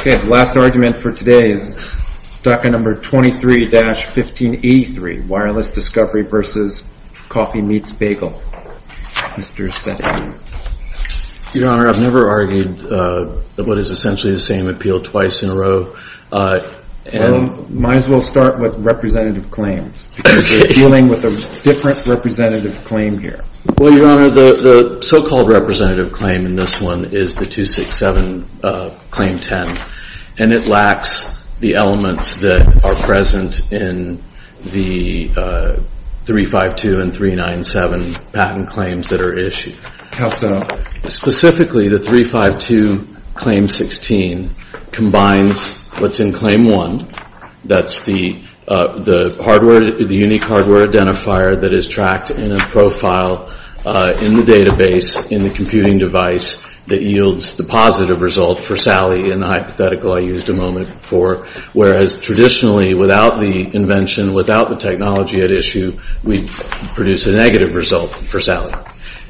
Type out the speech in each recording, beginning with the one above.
Okay, the last argument for today is docket number 23-1583, Wireless Discovery v. Coffee Meets Bagel. Mr. Sedley. Your Honor, I've never argued what is essentially the same appeal twice in a row. Might as well start with representative claims, because we're dealing with a different representative claim here. Well, Your Honor, the so-called representative claim in this one is the 267 Claim 10. And it lacks the elements that are present in the 352 and 397 patent claims that are issued. How so? Specifically, the 352 Claim 16 combines what's in Claim 1. That's the unique hardware identifier that is tracked in a profile in the database in the computing device that yields the positive result for Sally in the hypothetical I used a moment before. Whereas traditionally, without the invention, without the technology at issue, we'd produce a negative result for Sally.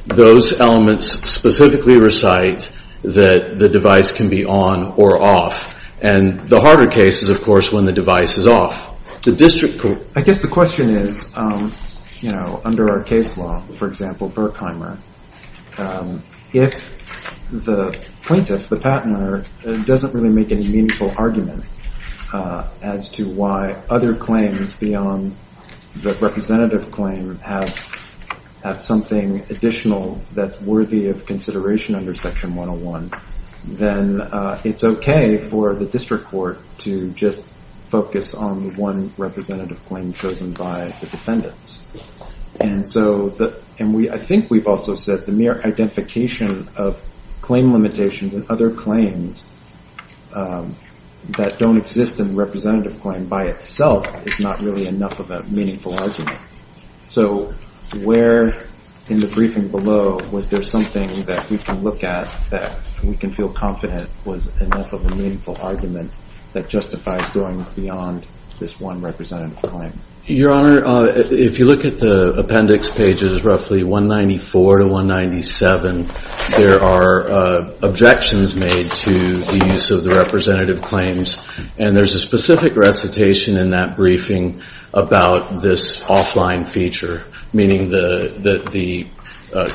Those elements specifically recite that the device can be on or off. And the harder case is, of course, when the device is off. I guess the question is, you know, under our case law, for example, Berkheimer, if the plaintiff, the patent owner, doesn't really make any meaningful argument as to why other claims beyond the representative claim have something additional that's worthy of consideration under Section 101, then it's okay for the district court to just focus on one representative claim chosen by the defendants. And so, I think we've also said the mere identification of claim limitations and other claims that don't exist in representative claim by itself is not really enough of a meaningful argument. So, where in the briefing below was there something that we can look at that we can feel confident was enough of a meaningful argument that justified going beyond this one representative claim? Your Honor, if you look at the appendix pages roughly 194 to 197, there are objections made to the use of the representative claims. And there's a specific recitation in that briefing about this offline feature, meaning that the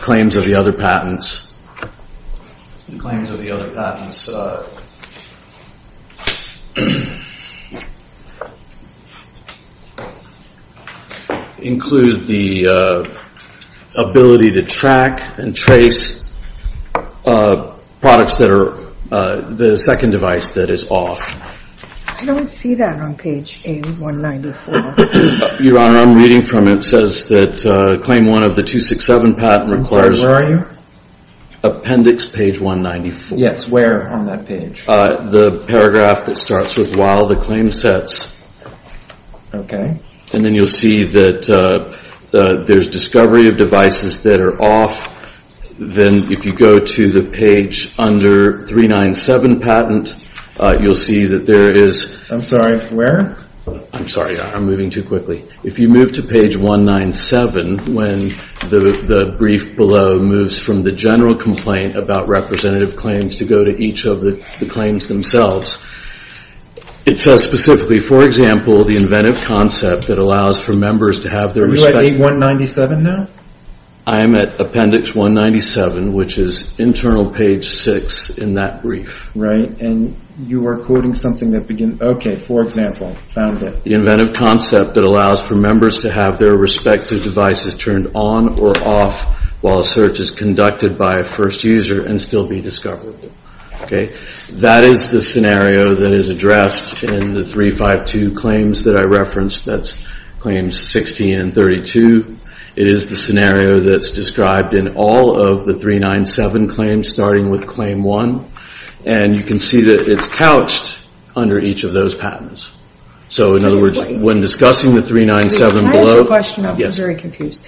claims of the other patents include the ability to track and trace products that are the second device that is off. I don't see that on page 194. Your Honor, I'm reading from it. It says that claim one of the 267 patent requires... I'm sorry, where are you? Appendix page 194. Yes, where on that page? The paragraph that starts with while the claim sets. Okay. And then you'll see that there's discovery of devices that are off. Then if you go to the page under 397 patent, you'll see that there is... I'm sorry, where? I'm sorry, I'm moving too quickly. If you move to page 197 when the brief below moves from the general complaint about representative claims to go to each of the claims themselves, it says specifically, for example, the inventive concept that allows for members to have their... Are you at page 197 now? I am at appendix 197, which is internal page 6 in that brief. Right. And you are quoting something that begins... Okay, for example, found it. The inventive concept that allows for members to have their respective devices turned on or off while a search is conducted by a first user and still be discovered. Okay. That is the scenario that is addressed in the 352 claims that I referenced. That's claims 16 and 32. It is the scenario that's described in all of the 397 claims starting with claim one. And you can see that it's couched under each of those patents. So, in other words, when discussing the 397 below... Can I ask a question? Yes. I'm very confused.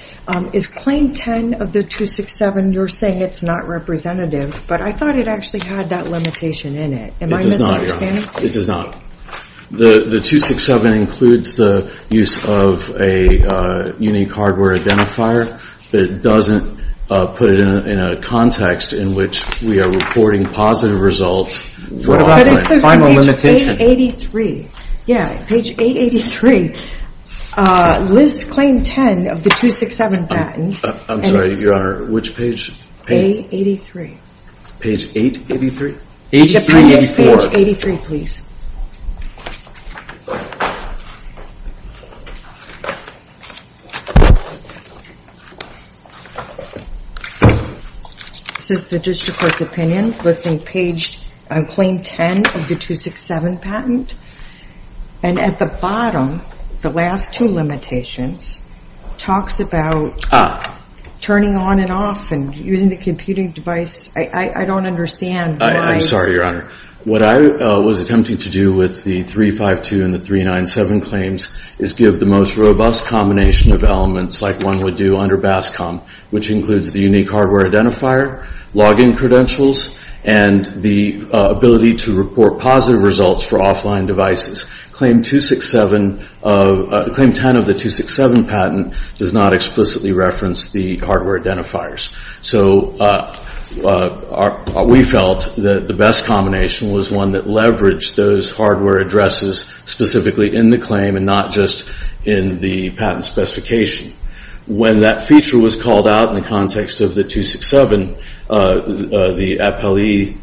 Is claim 10 of the 267, you're saying it's not representative, but I thought it actually had that limitation in it. It does not, Your Honor. Am I misunderstanding? It does not. The 267 includes the use of a unique hardware identifier, but it doesn't put it in a context in which we are reporting positive results. What about my final limitation? Page 883. Yeah, page 883. Liz, claim 10 of the 267 patent. I'm sorry, Your Honor. Which page? Page 883. Page 883? 8384. Page 83, please. This is the district court's opinion listing claim 10 of the 267 patent. And at the bottom, the last two limitations talks about turning on and off and using the computing device. I don't understand why... I'm sorry, Your Honor. What I was attempting to do with the 352 and the 397 claims is give the most robust combination of elements like one would do under BASCOM, which includes the unique hardware identifier, login credentials, and the ability to report positive results for offline devices. Claim 10 of the 267 patent does not explicitly reference the hardware identifiers. So we felt that the best combination was one that leveraged those hardware addresses specifically in the claim and not just in the patent specification. When that feature was called out in the context of the 267, the appellee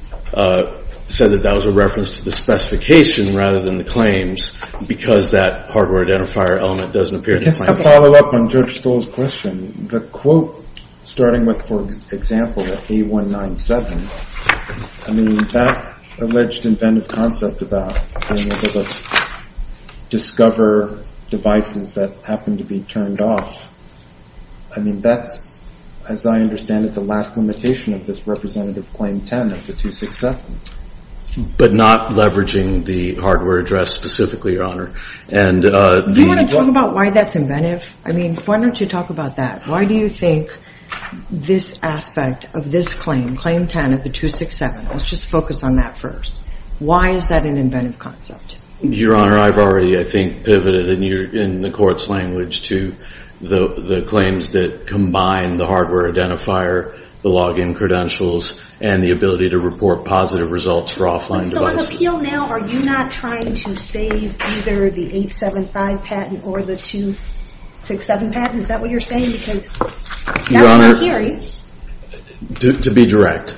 said that that was a reference to the specification rather than the claims because that hardware identifier element doesn't appear in the claims. To follow up on Judge Stoll's question, the quote starting with, for example, the A197, I mean, that alleged inventive concept about being able to discover devices that happen to be turned off, I mean, that's, as I understand it, the last limitation of this representative claim 10 of the 267. But not leveraging the hardware address specifically, Your Honor. Do you want to talk about why that's inventive? I mean, why don't you talk about that? Why do you think this aspect of this claim, Claim 10 of the 267, let's just focus on that first. Why is that an inventive concept? Your Honor, I've already, I think, pivoted in the Court's language to the claims that combine the hardware identifier, the login credentials, and the ability to report positive results for offline devices. So on appeal now, are you not trying to save either the 875 patent or the 267 patent? Is that what you're saying? Because that's what I'm hearing. Your Honor, to be direct,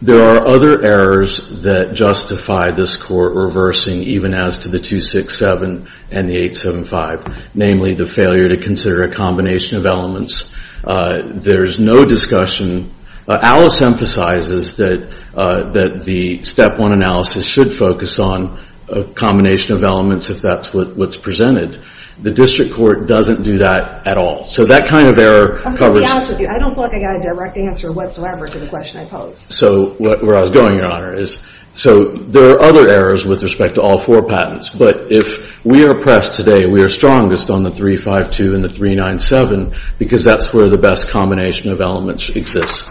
there are other errors that justify this Court reversing even as to the 267 and the 875, namely the failure to consider a combination of elements. There's no discussion. Alice emphasizes that the Step 1 analysis should focus on a combination of elements if that's what's presented. The District Court doesn't do that at all. So that kind of error covers... I'm going to be honest with you. I don't feel like I got a direct answer whatsoever to the question I posed. So where I was going, Your Honor, is so there are other errors with respect to all four patents. But if we are pressed today, we are strongest on the 352 and the 397 because that's where the best combination of elements exists.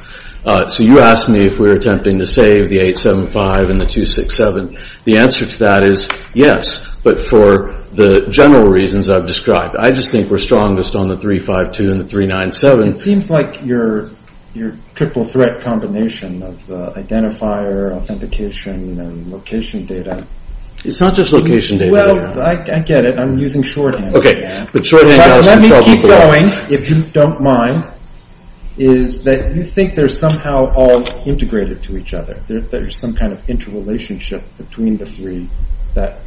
So you asked me if we were attempting to save the 875 and the 267. The answer to that is yes, but for the general reasons I've described. I just think we're strongest on the 352 and the 397. It seems like your triple threat combination of identifier, authentication, and location data... It's not just location data. Well, I get it. I'm using shorthand. But shorthand... Let me keep going, if you don't mind, is that you think they're somehow all integrated to each other. There's some kind of interrelationship between the three that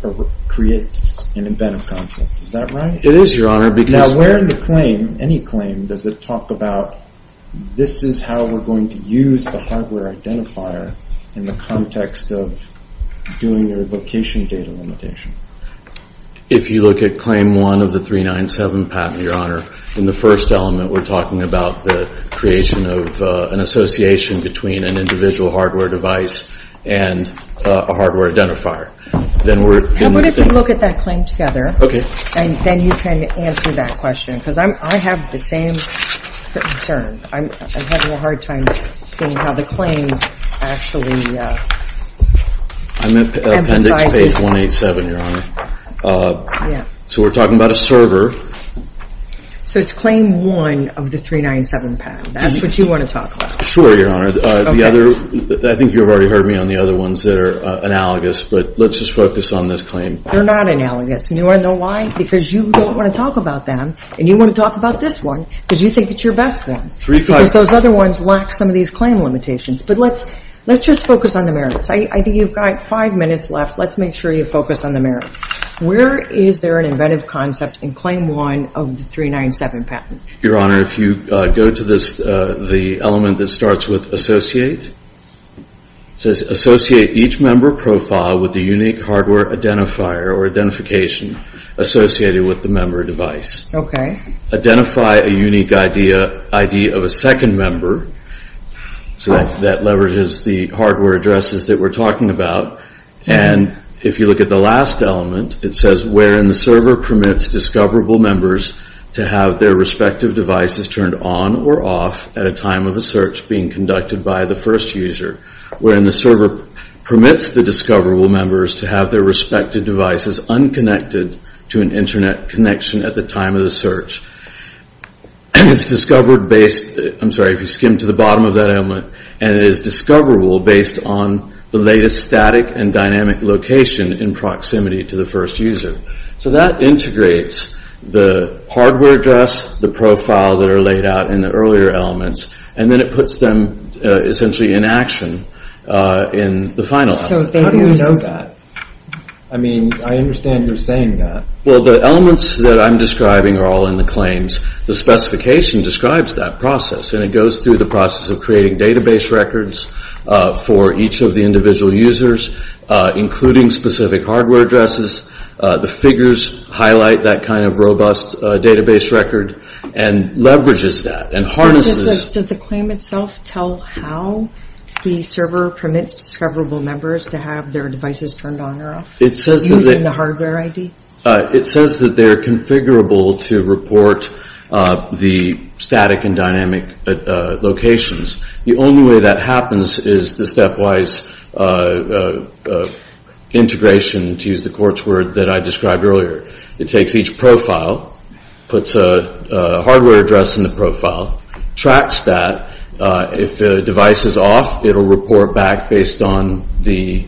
creates an inventive concept. Is that right? It is, Your Honor, because... Now where in the claim, any claim, does it talk about this is how we're going to use the hardware identifier in the context of doing your location data limitation? If you look at Claim 1 of the 397 path, Your Honor, in the first element, we're talking about the creation of an association between an individual hardware device and a hardware identifier. Then we're... What if we look at that claim together? Okay. Then you can answer that question because I have the same concern. I'm having a hard time seeing how the claim actually emphasizes... Appendix page 187, Your Honor. Yeah. So we're talking about a server. So it's Claim 1 of the 397 path. That's what you want to talk about. Sure, Your Honor. The other... I think you've already heard me on the other ones that are analogous, but let's just focus on this claim. They're not analogous, and you want to know why? Because you don't want to talk about them, and you want to talk about this one because you think it's your best bet because those other ones lack some of these claim limitations. But let's just focus on the merits. I think you've got five minutes left. Let's make sure you focus on the merits. Where is there an inventive concept in Claim 1 of the 397 patent? Your Honor, if you go to the element that starts with associate, it says associate each member profile with a unique hardware identifier or identification associated with the member device. Okay. Identify a unique ID of a second member. So that leverages the hardware addresses that we're talking about. And if you look at the last element, it says wherein the server permits discoverable members to have their respective devices turned on or off at a time of a search being conducted by the first user, wherein the server permits the discoverable members to have their respective devices unconnected to an internet connection at the time of the search. It's discovered based, I'm sorry, if you skim to the bottom of that element, and it is discoverable based on the latest static and dynamic location in proximity to the first user. So that integrates the hardware address, the profile that are laid out in the earlier elements, and then it puts them essentially in action in the final element. How do you know that? I mean, I understand you're saying that. Well, the elements that I'm describing are all in the claims. The specification describes that process, and it goes through the process of creating database records for each of the individual users, including specific hardware addresses. The figures highlight that kind of robust database record and leverages that and harnesses. Does the claim itself tell how the server permits discoverable members to have their devices turned on or off using the hardware ID? It says that they're configurable to report the static and dynamic locations. The only way that happens is the stepwise integration, to use the court's word, that I described earlier. It takes each profile, puts a hardware address in the profile, tracks that. If the device is off, it will report back based on the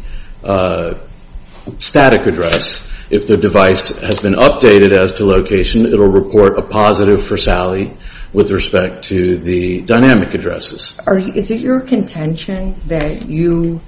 static address. If the device has been updated as to location, it will report a positive for Sally with respect to the dynamic addresses. Is it your contention that you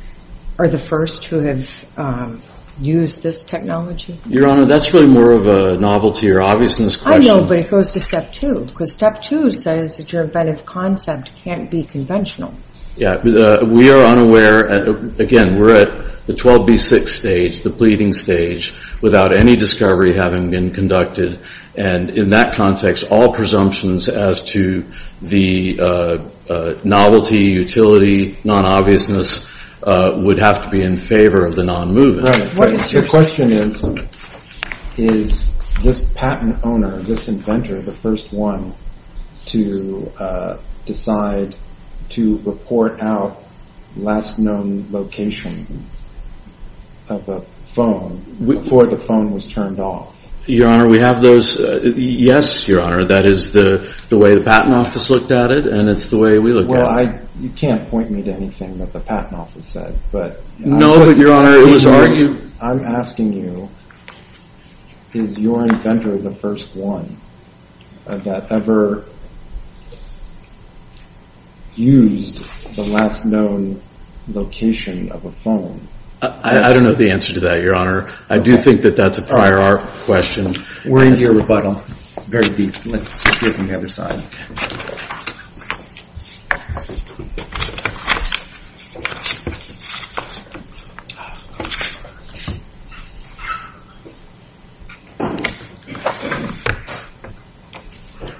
are the first to have used this technology? Your Honor, that's really more of a novelty or obviousness question. I know, but it goes to step two, because step two says that your inventive concept can't be conventional. We are unaware. Again, we're at the 12B6 stage, the pleading stage, without any discovery having been conducted. In that context, all presumptions as to the novelty, utility, non-obviousness, would have to be in favor of the non-movement. The question is, is this patent owner, this inventor, the first one to decide to report out last known location of a phone, before the phone was turned off? Your Honor, we have those. Yes, Your Honor, that is the way the Patent Office looked at it, and it's the way we look at it. Well, you can't point me to anything that the Patent Office said. No, but Your Honor, it was argued. I'm asking you, is your inventor the first one that ever used the last known location of a phone? I don't know the answer to that, Your Honor. I do think that that's a prior art question. We're into your rebuttal. It's very deep. Let's hear from the other side.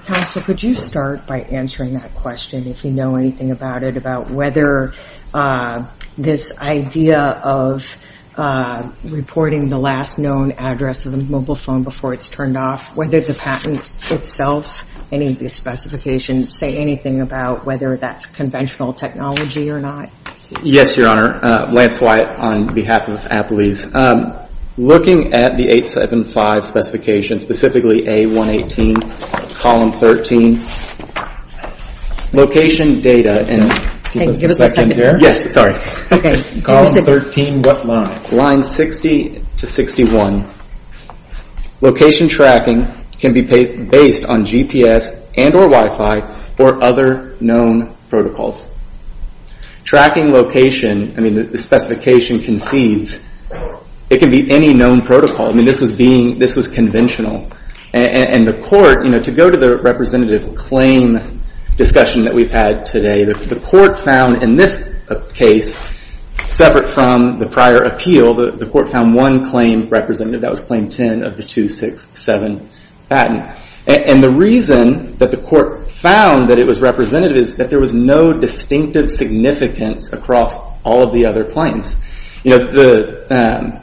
Counsel, could you start by answering that question, if you know anything about it, about whether this idea of reporting the last known address of a mobile phone before it's turned off, whether the patent itself, any of these specifications, say anything about whether that's conventional technology or not? Yes, Your Honor. Lance Wyatt, on behalf of Applebee's. Looking at the 875 specification, specifically A118, column 13, location data, and give us a second here. Yes, sorry. Okay. Column 13, what line? Line 60 to 61. Location tracking can be based on GPS and or Wi-Fi or other known protocols. Tracking location, I mean, the specification concedes, it can be any known protocol. I mean, this was being, this was conventional. And the court, you know, to go to the representative claim discussion that we've had today, the court found in this case, separate from the prior appeal, the court found one claim representative, that was claim 10 of the 267 patent. And the reason that the court found that it was representative is that there was no distinctive significance across all of the other claims. You know, the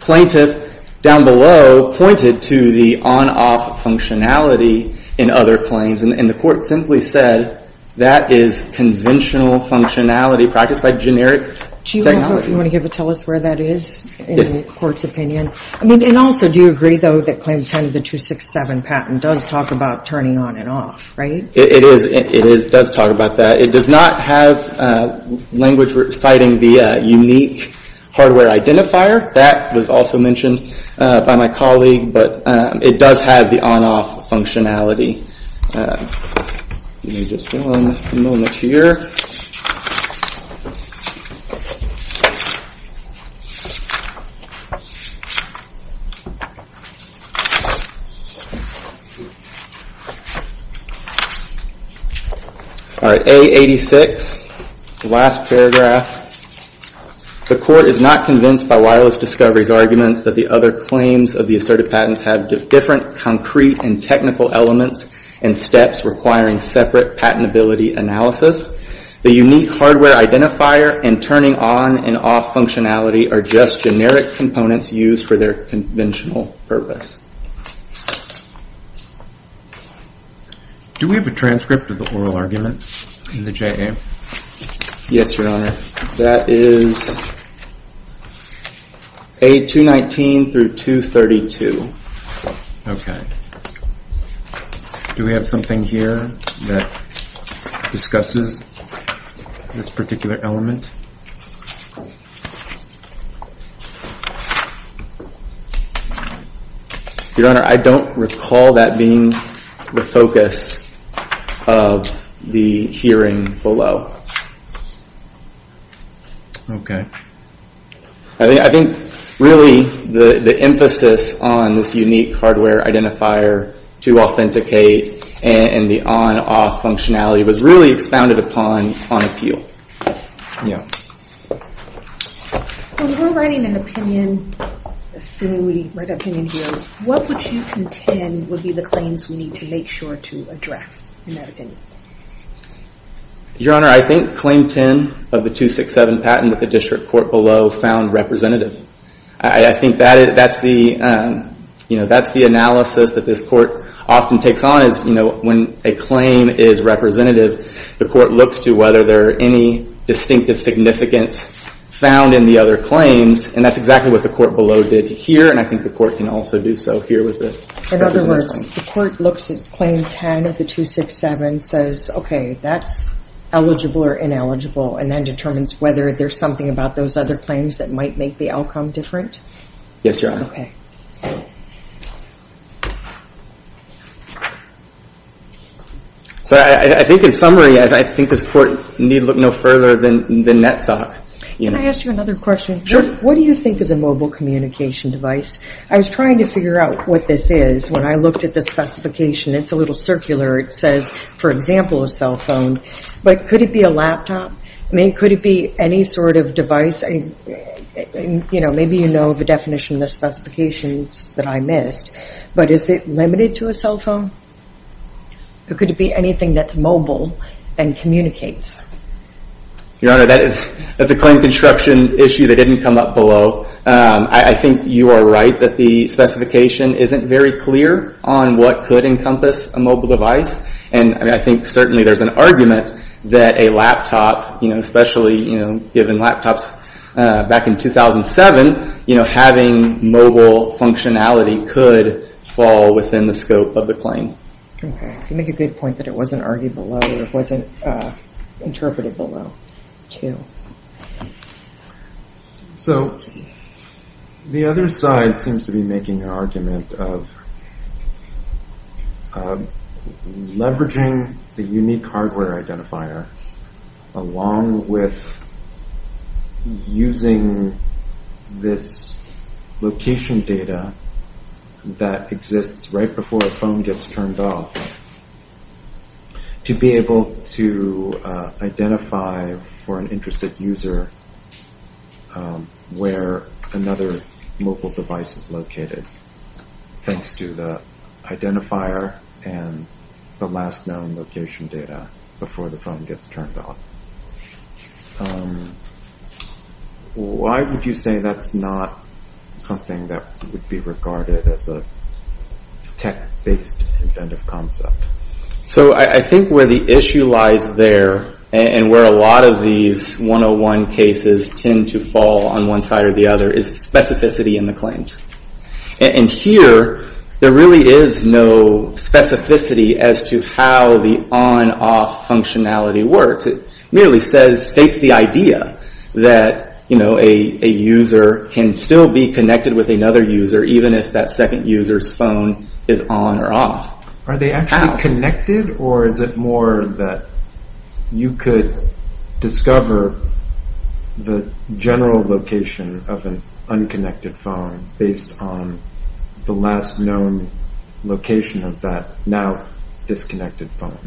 plaintiff down below pointed to the on-off functionality in other claims, and the court simply said that is conventional functionality practiced by generic technology. Do you want to give a tell us where that is in the court's opinion? I mean, and also, do you agree, though, that claim 10 of the 267 patent does talk about turning on and off, right? It does talk about that. It does not have language citing the unique hardware identifier. That was also mentioned by my colleague, but it does have the on-off functionality. Give me just one moment here. All right, A86, the last paragraph. The court is not convinced by Wyler's discovery's arguments that the other claims of the assertive patents have different concrete and technical elements and steps requiring separate patentability analysis. The unique hardware identifier and turning on and off functionality are just generic components used for their conventional purpose. Do we have a transcript of the oral argument in the JA? Yes, Your Honor. That is A219 through 232. Okay. Do we have something here that discusses this particular element? Your Honor, I don't recall that being the focus of the hearing below. Okay. I think really the emphasis on this unique hardware identifier to authenticate and the on-off functionality was really expounded upon on appeal. Yeah. When we're writing an opinion, assuming we write our opinion here, what would you contend would be the claims we need to make sure to address in that opinion? Your Honor, I think claim 10 of the 267 patent that the district court below found representative. I think that's the analysis that this court often takes on because when a claim is representative, the court looks to whether there are any distinctive significance found in the other claims, and that's exactly what the court below did here, and I think the court can also do so here with the representative claim. In other words, the court looks at claim 10 of the 267, says, okay, that's eligible or ineligible, and then determines whether there's something about those other claims that might make the outcome different? Yes, Your Honor. Okay. So I think in summary, I think this court need look no further than NETSOC. Can I ask you another question? Sure. What do you think is a mobile communication device? I was trying to figure out what this is when I looked at the specification. It's a little circular. It says, for example, a cell phone, but could it be a laptop? I mean, could it be any sort of device? Maybe you know the definition of the specifications that I missed, but is it limited to a cell phone? Or could it be anything that's mobile and communicates? Your Honor, that's a claim construction issue that didn't come up below. I think you are right that the specification isn't very clear on what could encompass a mobile device, and I think certainly there's an argument that a laptop, you know, given laptops back in 2007, you know, having mobile functionality could fall within the scope of the claim. You make a good point that it wasn't argued below or it wasn't interpreted below too. So the other side seems to be making an argument of leveraging the unique hardware identifier along with using this location data that exists right before a phone gets turned off to be able to identify for an interested user where another mobile device is located thanks to the identifier and the last known location data before the phone gets turned off. Why would you say that's not something that would be regarded as a tech-based inventive concept? So I think where the issue lies there, and where a lot of these 101 cases tend to fall on one side or the other, is specificity in the claims. And here there really is no specificity as to how the on-off functionality works. It merely states the idea that, you know, a user can still be connected with another user even if that second user's phone is on or off. Are they actually connected, or is it more that you could discover the general location of an unconnected phone based on the last known location of that now disconnected phone?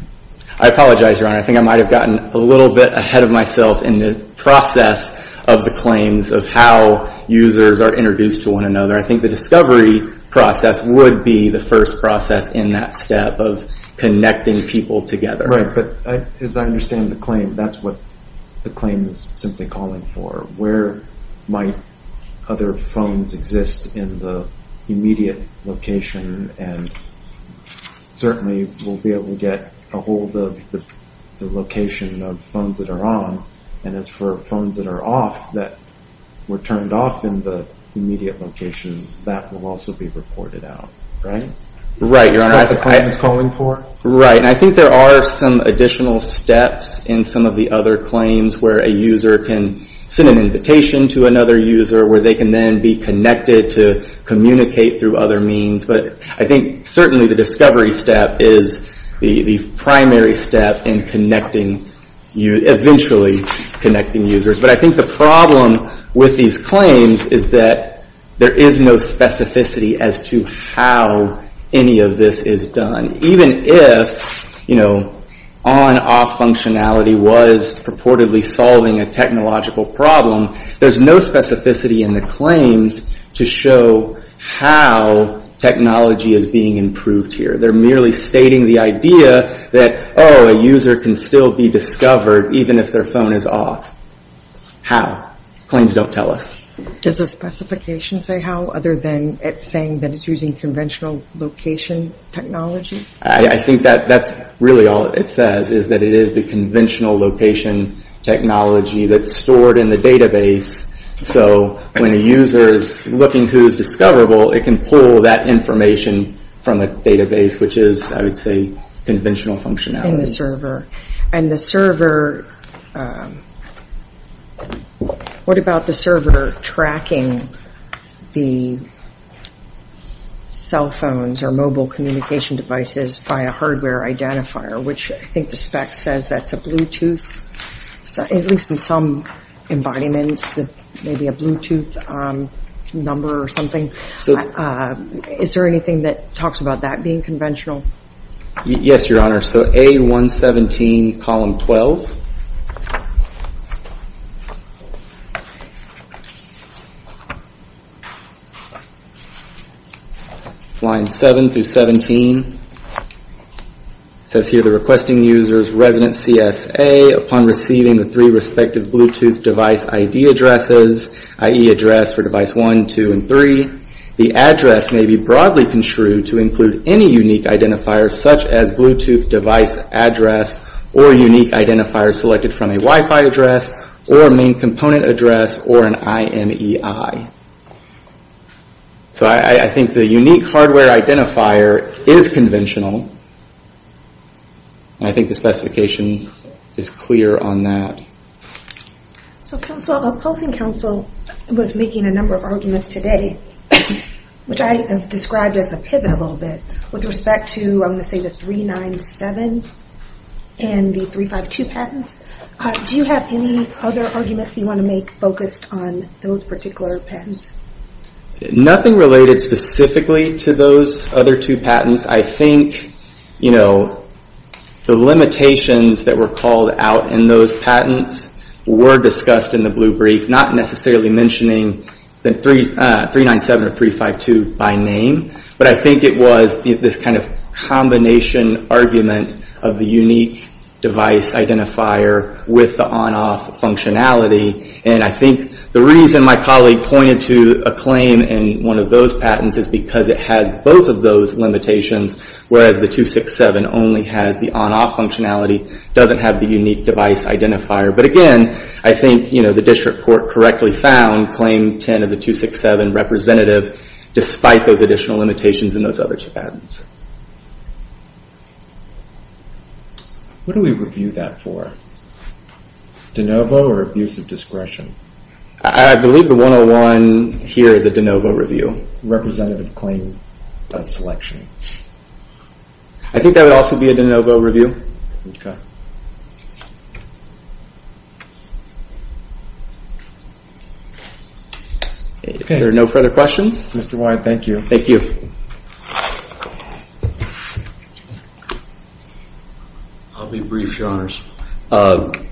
I apologize, Your Honor. I think I might have gotten a little bit ahead of myself in the process of the claims of how users are introduced to one another. I think the discovery process would be the first process in that step of connecting people together. Right, but as I understand the claim, that's what the claim is simply calling for. Where might other phones exist in the immediate location? And certainly we'll be able to get a hold of the location of phones that are on. And as for phones that are off, that were turned off in the immediate location, that will also be reported out, right? Right, Your Honor. That's what the claim is calling for. Right, and I think there are some additional steps in some of the other claims where a user can send an invitation to another user, where they can then be connected to communicate through other means. But I think certainly the discovery step is the primary step in eventually connecting users. But I think the problem with these claims is that there is no specificity as to how any of this is done. Even if on-off functionality was purportedly solving a technological problem, there's no specificity in the claims to show how technology is being improved here. They're merely stating the idea that, oh, a user can still be discovered even if their phone is off. How? Claims don't tell us. Does the specification say how, other than it saying that it's using conventional location technology? I think that's really all it says, is that it is the conventional location technology that's stored in the database. So when a user is looking who is discoverable, it can pull that information from the database, which is, I would say, conventional functionality. In the server. And the server, what about the server tracking the cell phones or mobile communication devices by a hardware identifier, which I think the spec says that's a Bluetooth, at least in some embodiments, maybe a Bluetooth number or something. Is there anything that talks about that being conventional? Yes, Your Honor. So A117, column 12. Lines 7 through 17. It says here, the requesting user's resident CSA, upon receiving the three respective Bluetooth device ID addresses, i.e. address for device 1, 2, and 3, the address may be broadly construed to include any unique identifier, such as Bluetooth device address or unique identifier selected from a Wi-Fi address or main component address or an IMEI. So I think the unique hardware identifier is conventional, and I think the specification is clear on that. So opposing counsel was making a number of arguments today, which I described as a pivot a little bit with respect to, I'm going to say, the 397 and the 352 patents. Do you have any other arguments that you want to make focused on those particular patents? Nothing related specifically to those other two patents. I think the limitations that were called out in those patents were discussed in the blue brief, not necessarily mentioning the 397 or 352 by name, but I think it was this kind of combination argument of the unique device identifier with the on-off functionality. And I think the reason my colleague pointed to a claim in one of those patents is because it has both of those limitations, whereas the 267 only has the on-off functionality, doesn't have the unique device identifier. But again, I think the district court correctly found claim 10 of the 267 representative despite those additional limitations in those other two patents. What do we review that for? De novo or abuse of discretion? I believe the 101 here is a de novo review. Representative claim of selection. I think that would also be a de novo review. If there are no further questions. Mr. White, thank you. Thank you. I'll be brief, Your Honors. The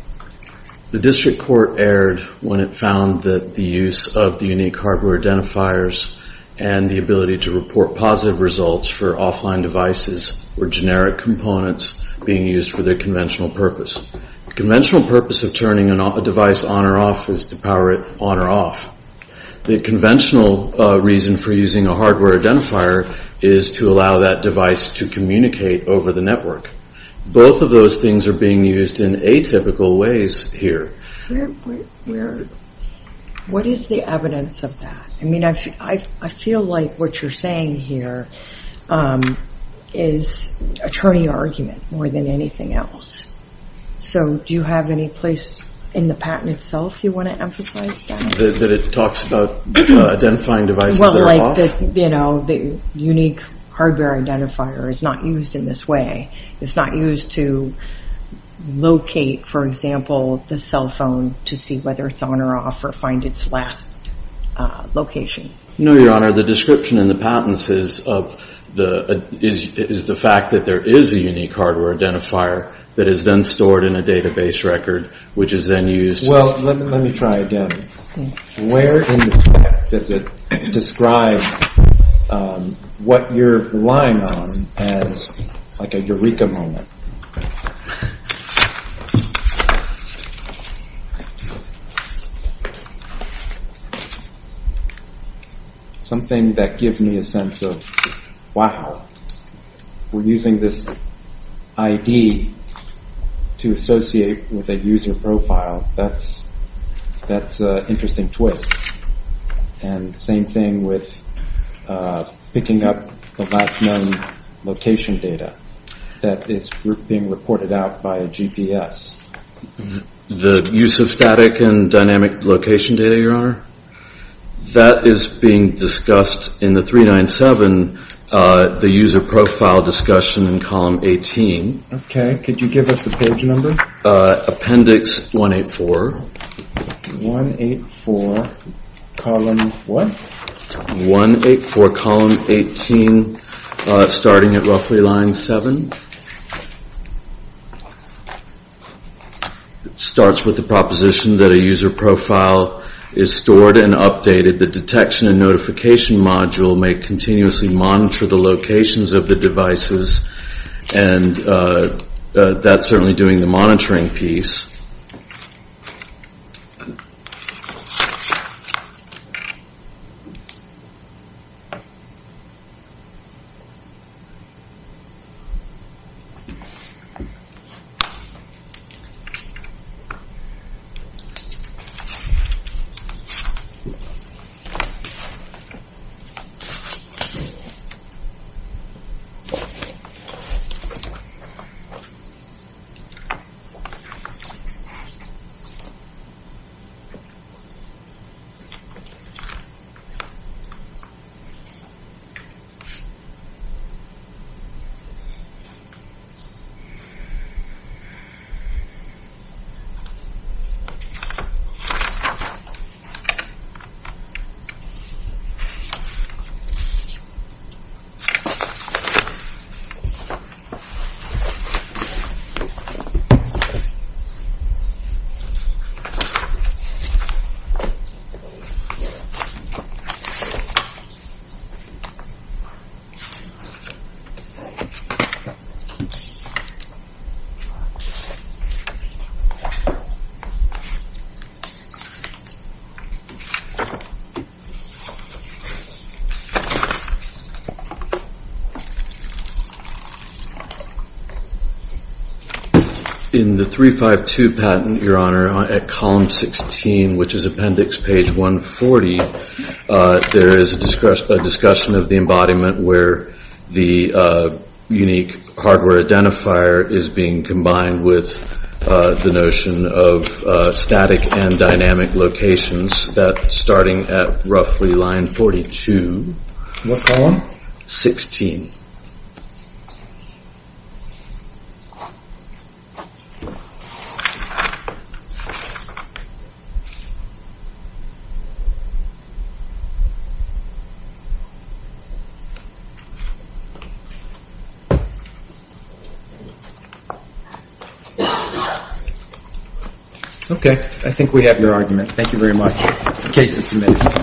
district court erred when it found that the use of the unique hardware identifiers and the ability to report positive results for offline devices were generic components being used for their conventional purpose. The conventional purpose of turning a device on or off is to power it on or off. The conventional reason for using a hardware identifier is to allow that device to communicate over the network. Both of those things are being used in atypical ways here. What is the evidence of that? I feel like what you're saying here is attorney argument more than anything else. Do you have any place in the patent itself you want to emphasize that? That it talks about identifying devices that are off? The unique hardware identifier is not used in this way. It's not used to locate, for example, the cell phone to see whether it's on or off or find its last location. No, Your Honor. The description in the patents is the fact that there is a unique hardware identifier that is then stored in a database record which is then used. Let me try again. Where in the statute does it describe what you're relying on as a eureka moment? Something that gives me a sense of, wow, we're using this ID to associate with a user profile. That's an interesting twist. And the same thing with picking up the last known location data that is being reported out by a GPS. The use of static and dynamic location data, Your Honor? That is being discussed in the 397, the user profile discussion in column 18. Okay. Could you give us the page number? Appendix 184. 184, column what? 184, column 18, starting at roughly line 7. It starts with the proposition that a user profile is stored and updated. The detection and notification module may continuously monitor the locations of the devices and that's certainly doing the monitoring piece. Okay. Okay. In the 352 patent, Your Honor, at column 16, which is appendix page 140, there is a discussion of the embodiment where the unique hardware identifier is being combined with the notion of static and dynamic locations that starting at roughly line 42. What column? 16. Okay. I think we have your argument. Thank you very much. The case is submitted.